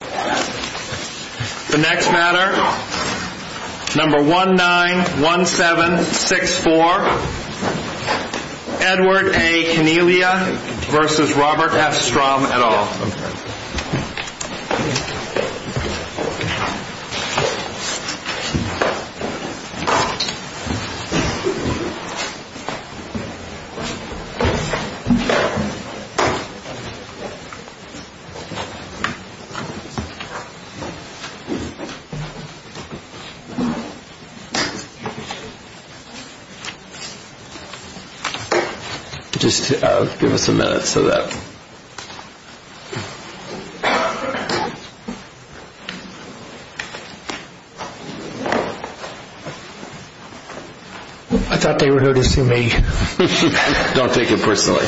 The next matter, number 191764, Edward A. Cagniglia v. Robert F. Strom et al. I thought they were noticing me. Don't take it personally.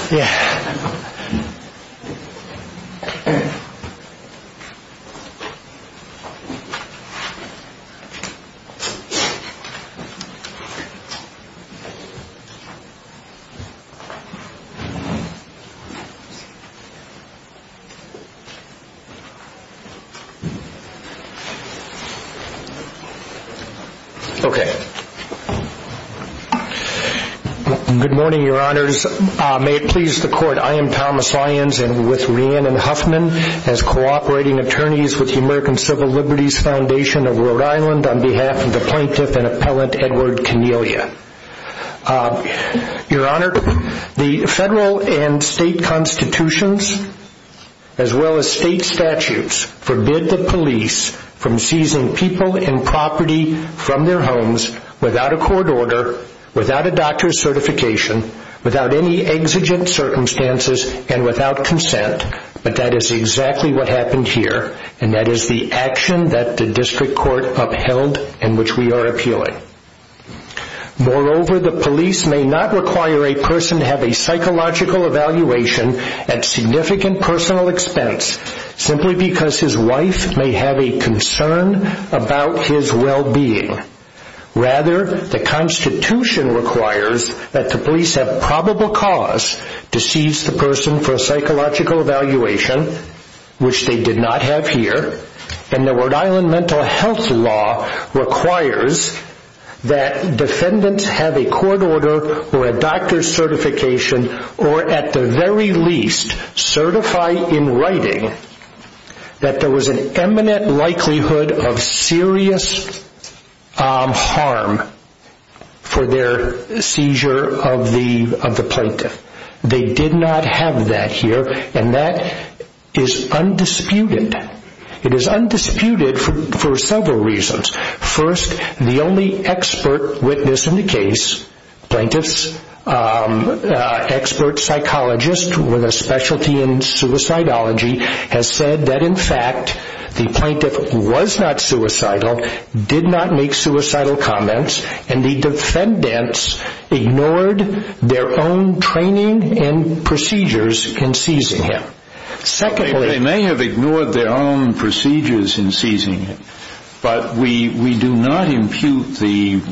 Okay. Good morning, your honors. May it please the court, I am Thomas Lyons and with Rhiannon Huffman as cooperating attorneys with the American Civil Liberties Foundation of Rhode Island on behalf of the plaintiff and appellant Edward Cagniglia. Your honor, the federal and state constitutions as well as state statutes forbid the police from seizing people and property from their homes without a court order, without a doctor's certification, without any exigent circumstances and without consent. But that is exactly what happened here and that is the action that the district court upheld and which we are appealing. Moreover, the police may not require a person to have a psychological evaluation at significant personal expense simply because his wife may have a concern about his well-being. Rather, the constitution requires that the police have probable cause to seize the person for a psychological evaluation which they did not have here and the Rhode Island mental health law requires that defendants have a court order or a doctor's certification or at the very least certify in writing that there was an imminent likelihood of serious harm for their seizure of the plaintiff. They did not have that here and that is undisputed. It is undisputed for several reasons. First, the only expert witness in the case, plaintiff's expert psychologist with a specialty in suicidology has said that in fact the plaintiff was not suicidal, did not make suicidal comments and the defendants ignored their own training and procedures in seizing him. They may have ignored their own procedures in seizing him but we do not impute the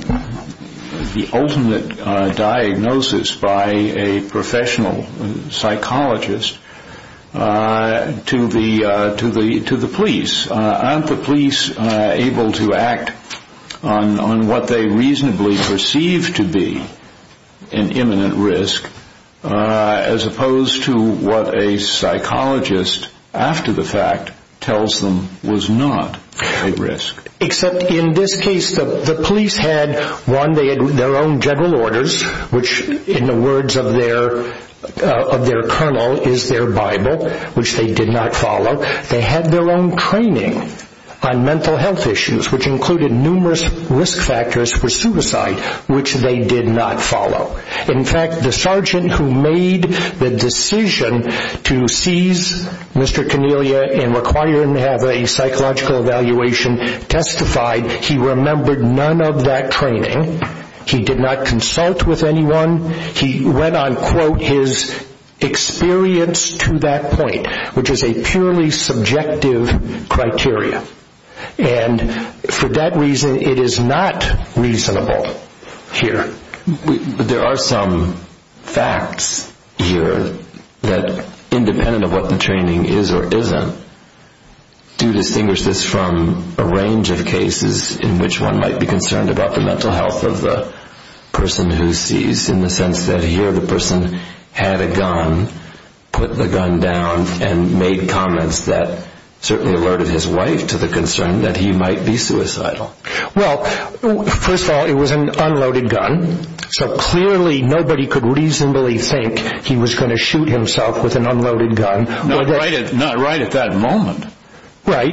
ultimate diagnosis by a professional psychologist to the police. Are not the police able to act on what they reasonably perceive to be an imminent risk as opposed to what a psychologist after the fact tells them was not a risk? Except in this case the police had their own general orders which in the words of their colonel is their bible which they did not follow. They had their own training on mental health issues which included numerous risk factors for suicide which they did not follow. In fact the sergeant who made the decision to seize Mr. Cornelia and require him to have a psychological evaluation testified he remembered none of that training. He did not consult with anyone. He went on to quote his experience to that point which is a purely subjective criteria. And for that reason it is not reasonable here. There are some facts here that independent of what the training is or isn't do distinguish this from a range of cases in which one might be concerned about the mental health of the person who seized in the sense that here the person had a gun, put the gun down and made comments that certainly alerted his wife to the concern that he might be suicidal. Well first of all it was an unloaded gun so clearly nobody could reasonably think he was going to shoot himself with an unloaded gun. Not right at that moment. Right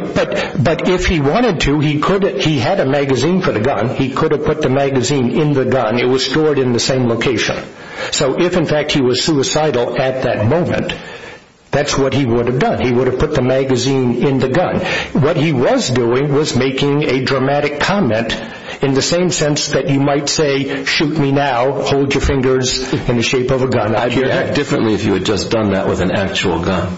but if he wanted to he had a magazine for the gun. He could have put the magazine in the gun. It was stored in the same location. So if in fact he was suicidal at that moment that's what he would have done. He would have put the magazine in the gun. What he was doing was making a dramatic comment in the same sense that you might say shoot me now, hold your fingers in the shape of a gun. I'd react differently if you had just done that with an actual gun.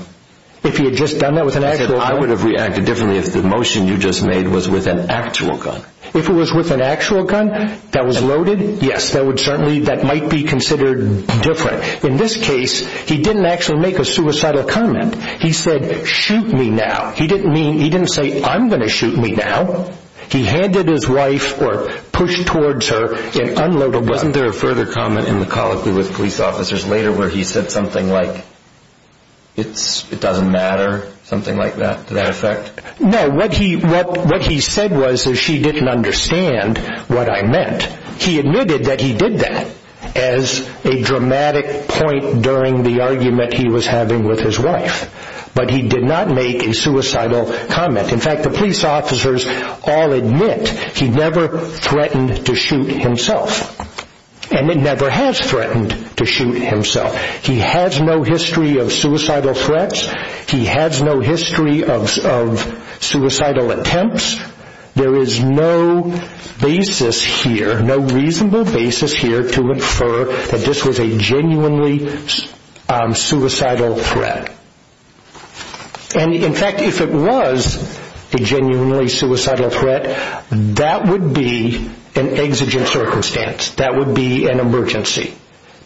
I would have reacted differently if the motion you just made was with an actual gun. If it was with an actual gun that was loaded yes that might be considered different. In this case he didn't actually make a suicidal comment. He said shoot me now. He didn't say I'm going to shoot me now. He handed his wife or pushed towards her an unloaded gun. Wasn't there a further comment in the colloquy with police officers later where he said something like it doesn't matter? Something like that? No what he said was that she didn't understand what I meant. He admitted that he did that as a dramatic point during the argument he was having with his wife. But he did not make a suicidal comment. In fact the police officers all admit he never threatened to shoot himself and never has threatened to shoot himself. He has no history of suicidal threats. He has no history of suicidal attempts. There is no reasonable basis here to infer that this was a genuinely suicidal threat. In fact if it was a genuinely suicidal threat that would be an exigent circumstance. That would be an emergency.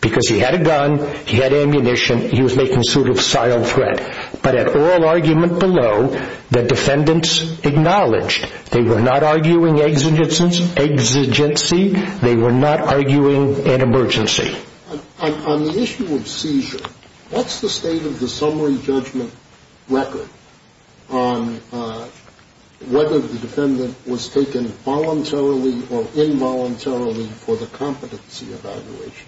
Because he had a gun, he had ammunition, he was making a suicidal threat. But at all argument below the defendants acknowledged they were not arguing exigency. They were not arguing an emergency. On the issue of seizure, what's the state of the summary judgment record on whether the defendant was taken voluntarily or involuntarily for the competency evaluation?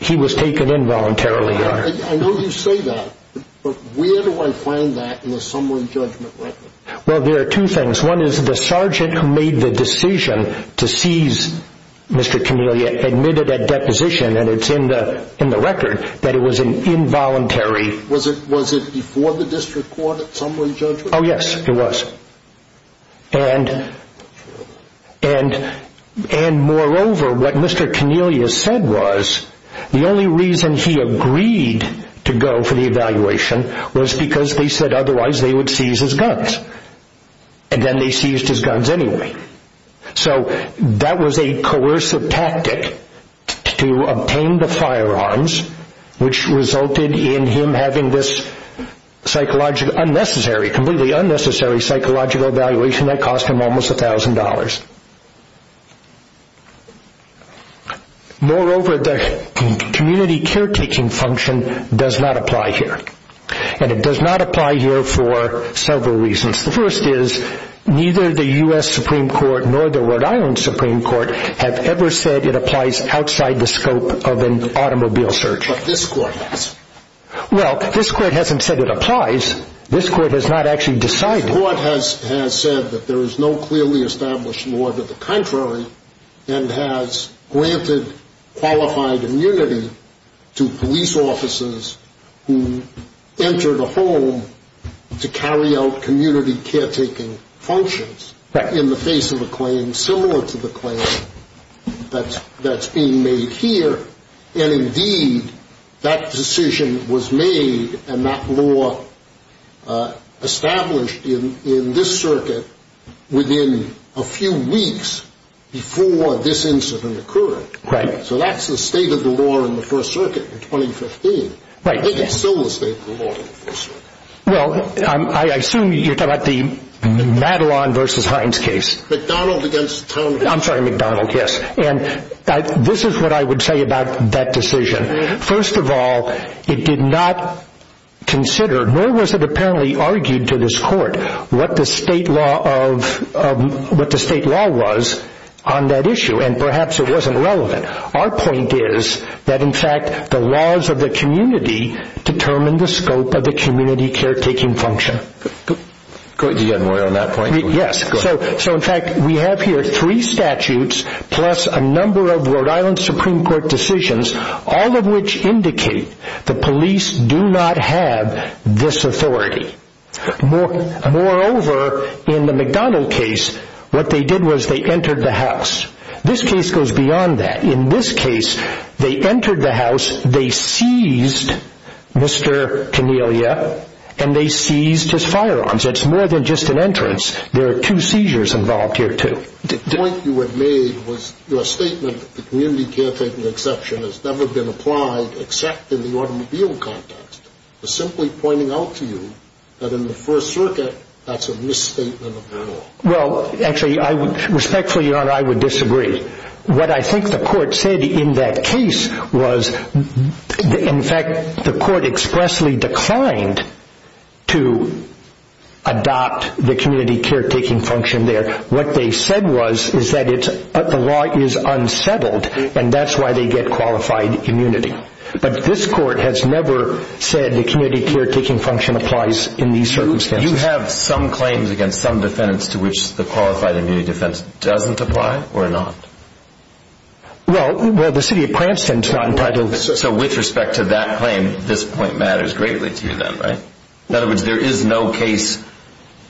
He was taken involuntarily. I know you say that, but where do I find that in the summary judgment record? Well there are two things. One is the sergeant who made the decision to seize Mr. Cornelia admitted at deposition, and it's in the record, that it was an involuntary... Was it before the district court at summary judgment? Oh yes, it was. And moreover what Mr. Cornelia said was the only reason he agreed to go for the evaluation was because they said otherwise they would seize his guns. And then they seized his guns anyway. So that was a coercive tactic to obtain the firearms which resulted in him having this psychologically unnecessary, completely unnecessary psychological evaluation that cost him almost a thousand dollars. Moreover the community caretaking function does not apply here. And it does not apply here for several reasons. The first is neither the U.S. Supreme Court nor the Rhode Island Supreme Court have ever said it applies outside the scope of an automobile search. But this court has. Well this court hasn't said it applies. This court has not actually decided. The court has said that there is no clearly established law to the contrary and has granted qualified immunity to police officers who enter the home to carry out community caretaking functions in the face of a claim similar to the claim that's being made here. And indeed that decision was made and that law established in this circuit within a few weeks before this incident occurred. Right. So that's the state of the law in the First Circuit in 2015. Right. I think it's still the state of the law in the First Circuit. Well I assume you're talking about the Madelon versus Hines case. McDonald against Townsville. I'm sorry McDonald. Yes. And this is what I would say about that decision. First of all it did not consider nor was it apparently argued to this court what the state law was on that issue and perhaps it wasn't relevant. Our point is that in fact the laws of the community determine the scope of the community caretaking function. Do you agree on that point? Yes. Good. So in fact we have here three statutes plus a number of Rhode Island Supreme Court decisions all of which indicate the police do not have this authority. Moreover in the McDonald case what they did was they entered the house. This case goes beyond that. In this case they entered the house, they seized Mr. Cornelia and they seized his firearms. It's more than just an entrance. There are two seizures involved here too. The point you had made was your statement that the community caretaking exception has never been applied except in the automobile context was simply pointing out to you that in the First Circuit that's a misstatement of the law. Well actually respectfully Your Honor I would disagree. What I think the court said in that case was in fact the court expressly declined to adopt the community caretaking function there. What they said was that the law is unsettled and that's why they get qualified immunity. But this court has never said the community caretaking function applies in these circumstances. Do you have some claims against some defendants to which the qualified immunity defense doesn't apply or not? Well the City of Cranston's not entitled to. So with respect to that claim this point matters greatly to you then right? In other words there is no case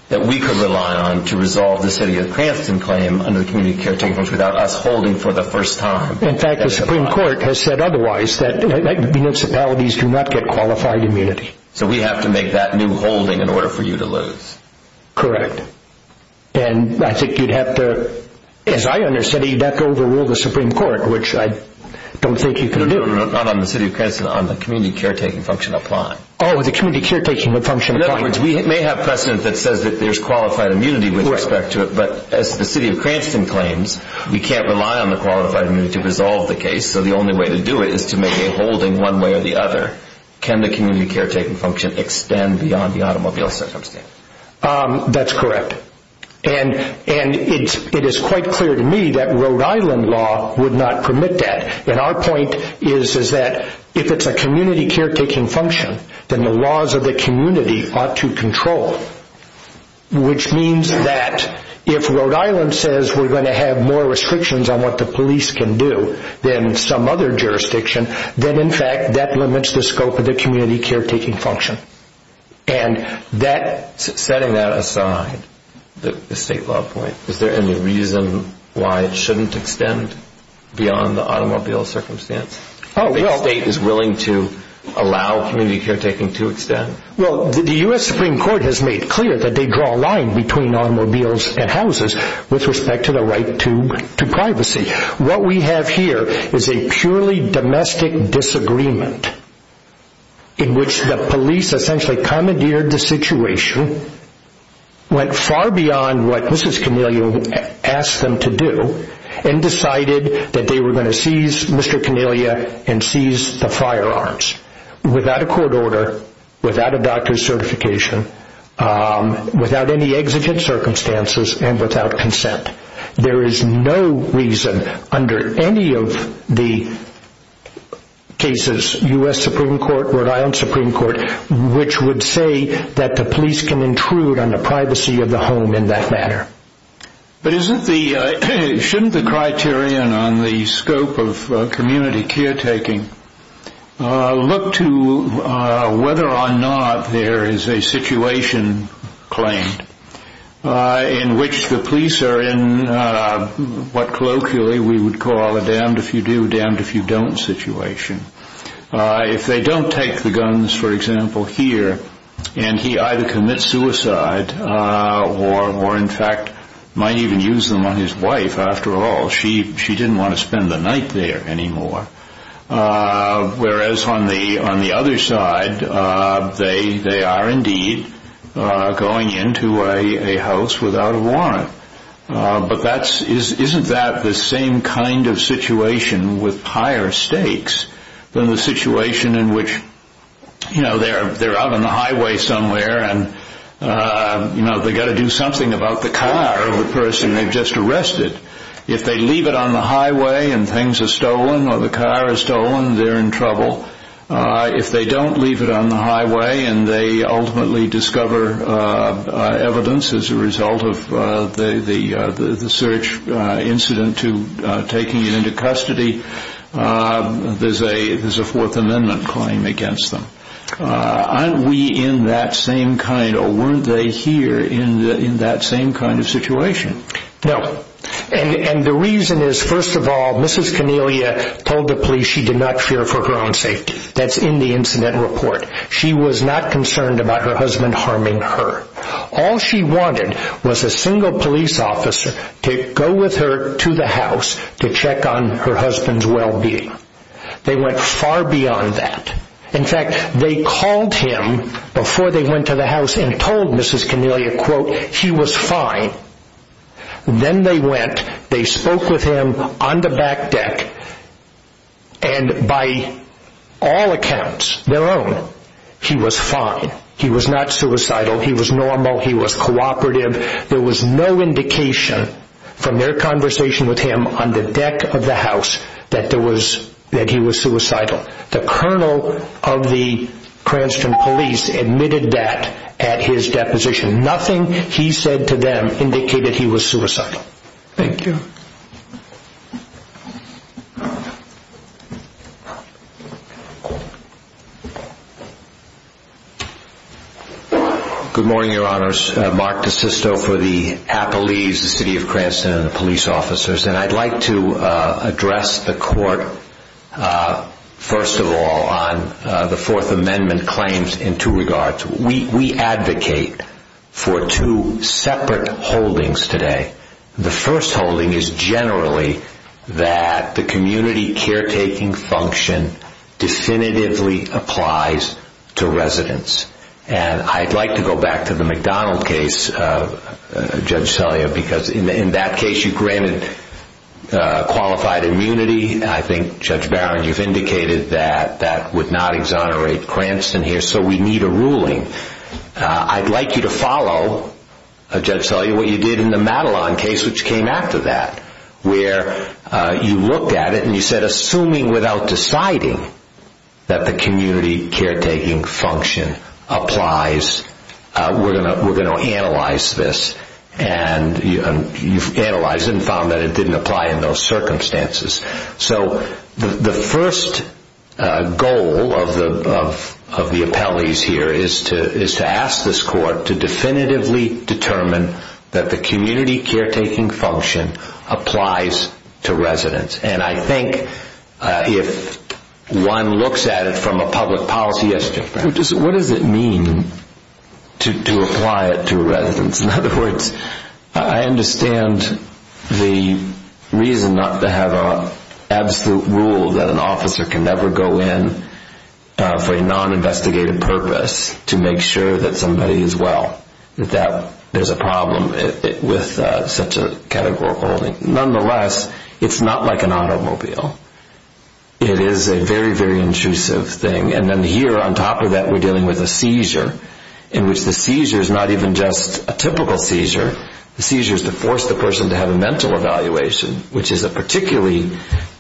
that we could rely on to resolve the City of Cranston claim under the community caretaking function without us holding for the first time. In fact the Supreme Court has said otherwise that municipalities do not get qualified immunity. So we have to make that new holding in order for you to lose. Correct. And I think you'd have to, as I understand it you'd have to overrule the Supreme Court which I don't think you can do. No, no, no, not on the City of Cranston on the community caretaking function applying. Oh the community caretaking function applying. In other words we may have precedent that says that there's qualified immunity with respect to it but as the City of Cranston claims we can't rely on the qualified immunity to resolve the case. So the only way to do it is to make a holding one way or the other. Can the community caretaking function extend beyond the automobile circumstance? That's correct. And it is quite clear to me that Rhode Island law would not permit that. And our point is that if it's a community caretaking function then the laws of the community ought to control. Which means that if Rhode Island says we're going to have more restrictions on what the police can do than some other jurisdiction, then in fact that limits the scope of the community caretaking function. Setting that aside, the state law point, is there any reason why it shouldn't extend beyond the automobile circumstance? If the state is willing to allow community caretaking to extend? Well the U.S. Supreme Court has made clear that they draw a line between automobiles and houses with respect to the right to privacy. What we have here is a purely domestic disagreement in which the police essentially commandeered the situation, went far beyond what Mrs. Cornelia asked them to do and decided that they were going to seize Mr. Cornelia and seize the firearms. Without a court order, without a doctor's certification, without any exigent circumstances and without consent. There is no reason under any of the cases, U.S. Supreme Court, Rhode Island Supreme Court, which would say that the police can intrude on the privacy of the home in that manner. But shouldn't the criterion on the scope of community caretaking look to whether or not there is a situation claimed in which the police are in what colloquially we would call a damned if you do, damned if you don't situation. If they don't take the guns for example here and he either commits suicide or in fact might even use them on his wife after all. She didn't want to spend the night there anymore. Whereas on the other side they are indeed going into a house without a warrant. But isn't that the same kind of situation with higher stakes than the situation in which they are out on the highway somewhere and they have to do something about the car of the person they have just arrested. If they leave it on the highway and things are stolen or the car is stolen, they are in trouble. If they don't leave it on the highway and they ultimately discover evidence as a result of the search incident to taking it into custody, there is a Fourth Amendment claim against them. Aren't we in that same kind or weren't they here in that same kind of situation? No. And the reason is first of all Mrs. Cornelia told the police she did not fear for her own safety. That's in the incident report. She was not concerned about her husband harming her. All she wanted was a single police officer to go with her to the house to check on her husband's well-being. They went far beyond that. In fact, they called him before they went to the house and told Mrs. Cornelia, quote, he was fine. Then they went, they spoke with him on the back deck, and by all accounts, their own, he was fine. He was not suicidal. He was normal. He was cooperative. There was no indication from their conversation with him on the deck of the house that he was suicidal. The colonel of the Cranston police admitted that at his deposition. Nothing he said to them indicated he was suicidal. Thank you. Good morning, Your Honors. Mark DeSisto for the Appalese, the City of Cranston, and the police officers. I'd like to address the court first of all on the Fourth Amendment claims in two regards. We advocate for two separate holdings today. The first holding is generally that the community caretaking function definitively applies to residents. I'd like to go back to the McDonald case, Judge Selya, because in that case you granted qualified immunity. I think, Judge Barron, you've indicated that that would not exonerate Cranston here, so we need a ruling. I'd like you to follow, Judge Selya, what you did in the Madelon case, which came after that, where you looked at it and said, assuming without deciding that the community caretaking function applies, we're going to analyze this. You've analyzed it and found that it didn't apply in those circumstances. The first goal of the Appalese here is to ask this court to definitively determine that the community caretaking function applies to residents. I think if one looks at it from a public policy aspect, what does it mean to apply it to residents? In other words, I understand the reason not to have an absolute rule that an officer can never go in for a non-investigated purpose to make sure that somebody is well, that there's a problem with such a categorical holding. Nonetheless, it's not like an automobile. It is a very, very intrusive thing. And then here, on top of that, we're dealing with a seizure, in which the seizure is not even just a typical seizure. The seizure is to force the person to have a mental evaluation, which is a particularly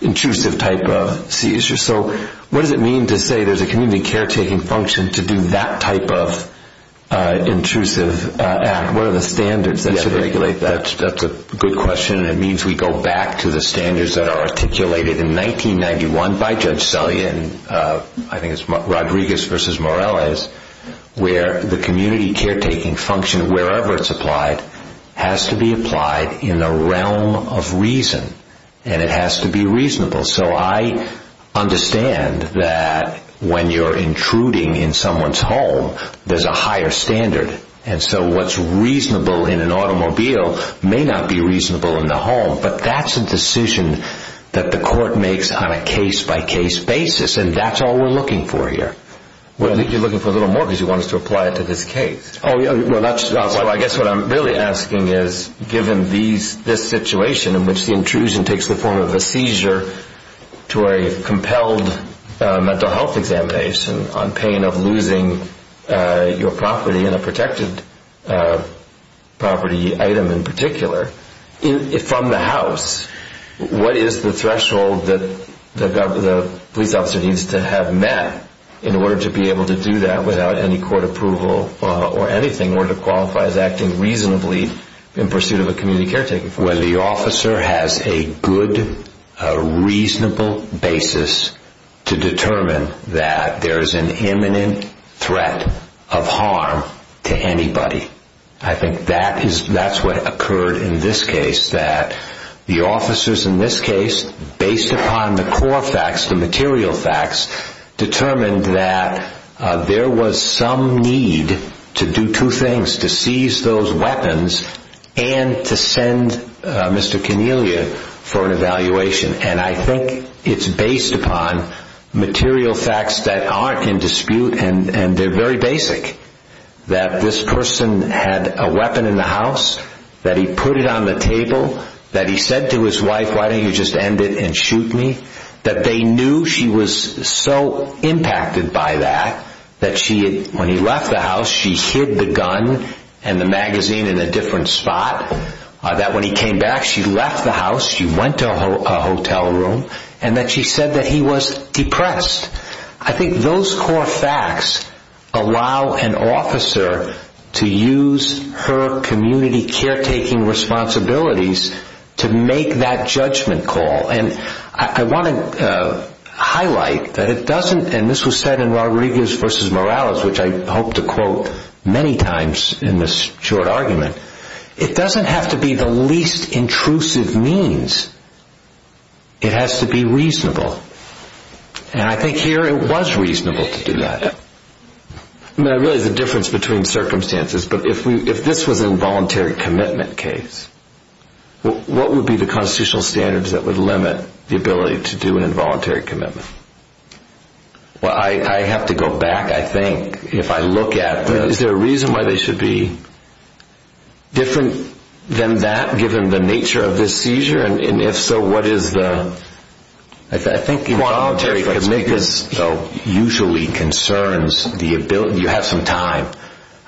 intrusive type of seizure. So what does it mean to say there's a community caretaking function to do that type of intrusive act? What are the standards that should regulate that? That's a good question, and it means we go back to the standards that are articulated in 1991 by Judge Sully in Rodriguez v. Morales, where the community caretaking function, wherever it's applied, has to be applied in the realm of reason, and it has to be reasonable. So I understand that when you're intruding in someone's home, there's a higher standard. And so what's reasonable in an automobile may not be reasonable in the home, but that's a decision that the court makes on a case-by-case basis, and that's all we're looking for here. Well, I think you're looking for a little more because you want us to apply it to this case. So I guess what I'm really asking is, given this situation in which the intrusion takes the form of a seizure to a compelled mental health examination on pain of losing your property, and a protected property item in particular, from the house, what is the threshold that the police officer needs to have met in order to be able to do that without any court approval or anything, or to qualify as acting reasonably in pursuit of a community caretaking function? Well, the officer has a good, reasonable basis to determine that there is an imminent threat of harm to anybody. I think that's what occurred in this case, that the officers in this case, based upon the core facts, the material facts, determined that there was some need to do two things, to seize those weapons and to send Mr. Cornelia for an evaluation. And I think it's based upon material facts that aren't in dispute, and they're very basic, that this person had a weapon in the house, that he put it on the table, that he said to his wife, why don't you just end it and shoot me, that they knew she was so impacted by that, that when he left the house, she hid the gun and the magazine in a different spot, that when he came back, she left the house, she went to a hotel room, and that she said that he was depressed. I think those core facts allow an officer to use her community caretaking responsibilities to make that judgment call. And I want to highlight that it doesn't, and this was said in Rodriguez v. Morales, which I hope to quote many times in this short argument, it doesn't have to be the least intrusive means, it has to be reasonable. And I think here it was reasonable to do that. There really is a difference between circumstances, but if this was an involuntary commitment case, what would be the constitutional standards that would limit the ability to do an involuntary commitment? Well, I have to go back, I think, if I look at the... Is there a reason why they should be different than that, given the nature of this seizure? And if so, what is the... I think involuntary commitment usually concerns the ability, you have some time.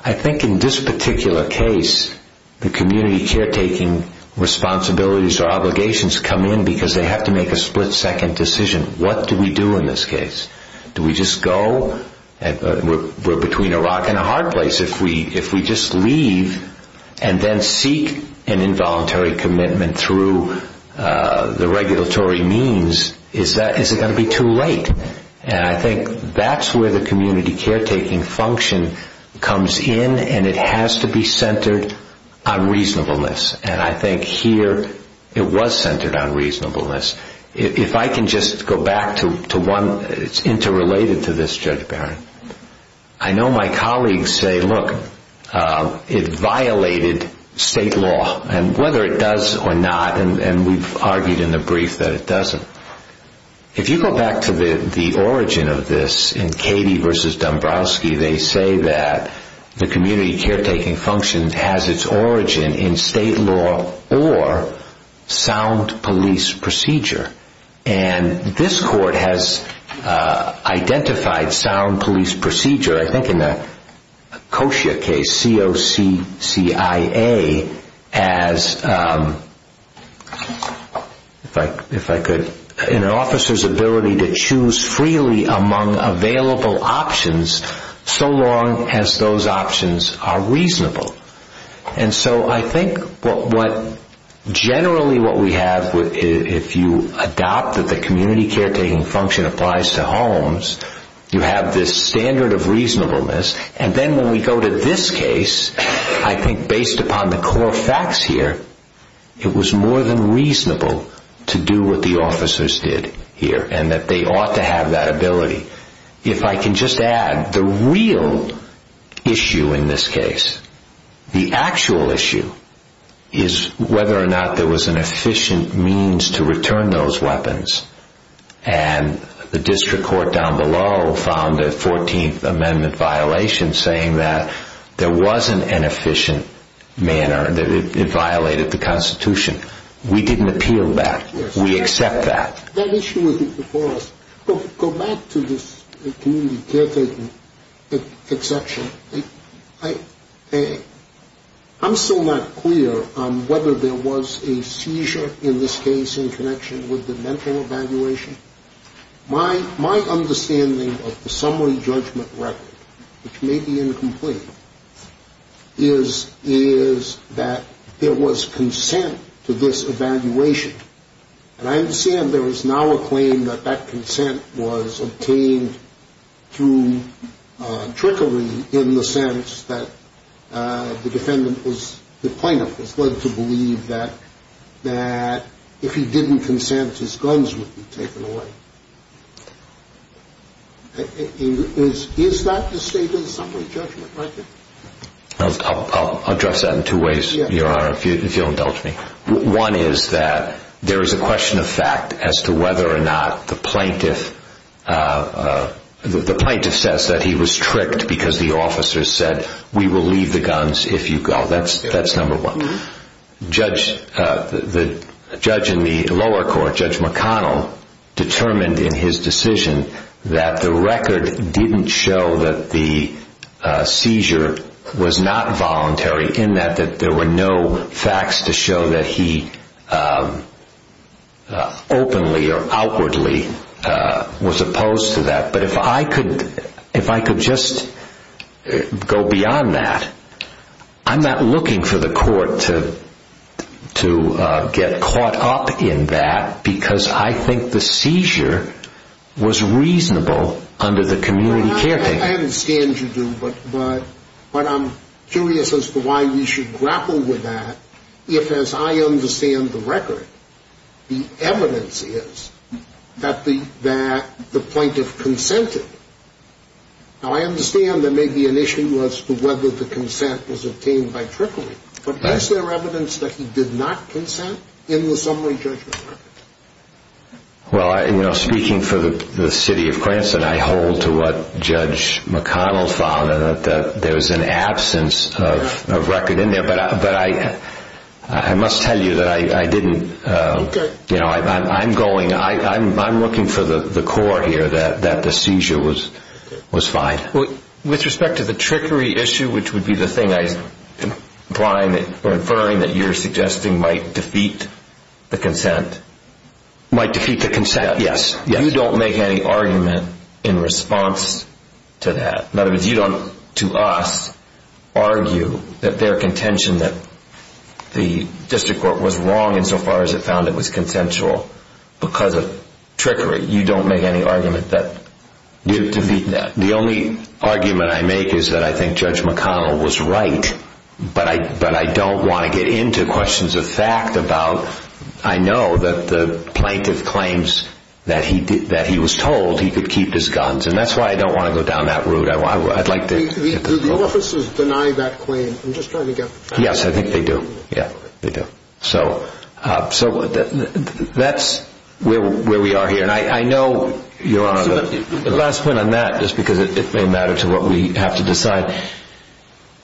I think in this particular case, the community caretaking responsibilities or obligations come in because they have to make a split-second decision. What do we do in this case? Do we just go? We're between a rock and a hard place. If we just leave and then seek an involuntary commitment through the regulatory means, is it going to be too late? And I think that's where the community caretaking function comes in, and it has to be centered on reasonableness. And I think here it was centered on reasonableness. If I can just go back to one, it's interrelated to this, Judge Barron. I know my colleagues say, look, it violated state law, and whether it does or not, and we've argued in the brief that it doesn't. If you go back to the origin of this in Cady v. Dombrowski, they say that the community caretaking function has its origin in state law or sound police procedure. And this court has identified sound police procedure, I think in the Koshia case, C-O-C-C-I-A, as an officer's ability to choose freely among available options so long as those options are reasonable. And so I think generally what we have, if you adopt that the community caretaking function applies to homes, you have this standard of reasonableness. And then when we go to this case, I think based upon the core facts here, it was more than reasonable to do what the officers did here, and that they ought to have that ability. If I can just add, the real issue in this case, the actual issue, is whether or not there was an efficient means to return those weapons. And the district court down below found a 14th Amendment violation saying that there wasn't an efficient manner, that it violated the Constitution. We didn't appeal that. We accept that. That issue wasn't before us. Go back to this community caretaking exception. I'm still not clear on whether there was a seizure in this case in connection with the mental evaluation. My understanding of the summary judgment record, which may be incomplete, is that there was consent to this evaluation. And I understand there is now a claim that that consent was obtained through trickery in the sense that the plaintiff was led to believe that if he didn't consent, his guns would be taken away. Is that the state of the summary judgment record? I'll address that in two ways, Your Honor, if you'll indulge me. One is that there is a question of fact as to whether or not the plaintiff says that he was tricked because the officer said, we will leave the guns if you go. That's number one. The judge in the lower court, Judge McConnell, determined in his decision that the record didn't show that the seizure was not voluntary in that there were no facts to show that he openly or outwardly was opposed to that. But if I could just go beyond that, I'm not looking for the court to get caught up in that because I think the seizure was reasonable under the community caretaking. I understand you do, but I'm curious as to why we should grapple with that if, as I understand the record, the evidence is that the plaintiff consented. Now, I understand there may be an issue as to whether the consent was obtained by trickery, but is there evidence that he did not consent in the summary judgment record? Well, speaking for the city of Cranston, I hold to what Judge McConnell found that there was an absence of record in there, but I must tell you that I didn't. I'm looking for the court here that the seizure was fine. With respect to the trickery issue, which would be the thing, you're inferring that you're suggesting might defeat the consent. Might defeat the consent, yes. You don't make any argument in response to that. In other words, you don't, to us, argue that their contention that the district court was wrong insofar as it found it was consensual because of trickery. You don't make any argument that you're defeating that. The only argument I make is that I think Judge McConnell was right, but I don't want to get into questions of fact about, I know that the plaintiff claims that he was told he could keep his guns, and that's why I don't want to go down that route. Do the officers deny that claim? Yes, I think they do. So that's where we are here. The last point on that, just because it may matter to what we have to decide,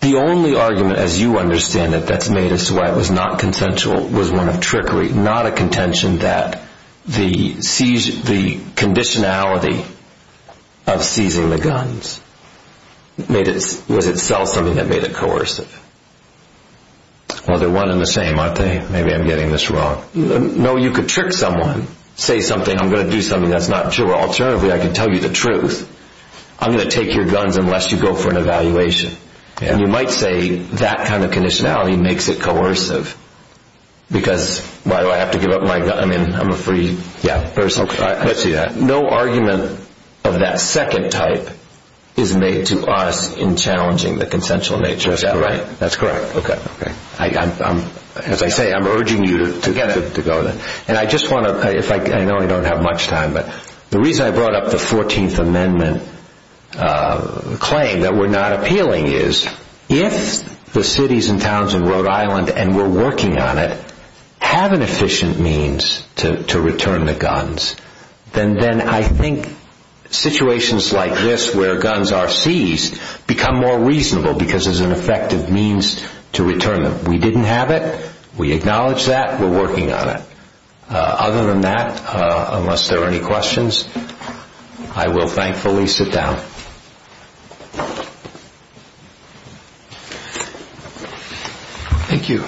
the only argument, as you understand it, that's made as to why it was not consensual was one of trickery, not a contention that the conditionality of seizing the guns was itself something that made it coercive. Well, they're one and the same, aren't they? Maybe I'm getting this wrong. No, you could trick someone. Say something, I'm going to do something that's not true. Alternatively, I can tell you the truth. I'm going to take your guns unless you go for an evaluation. And you might say that kind of conditionality makes it coercive because why do I have to give up my gun? I mean, I'm a free person. I see that. No argument of that second type is made to us in challenging the consensual nature. Is that right? That's correct. As I say, I'm urging you to go then. And I just want to, I know I don't have much time, but the reason I brought up the 14th Amendment claim that we're not appealing is if the cities and towns in Rhode Island, and we're working on it, have an efficient means to return the guns, then I think situations like this where guns are seized become more reasonable because there's an effective means to return them. We didn't have it. We acknowledge that. We're working on it. Other than that, unless there are any questions, I will thankfully sit down. Thank you.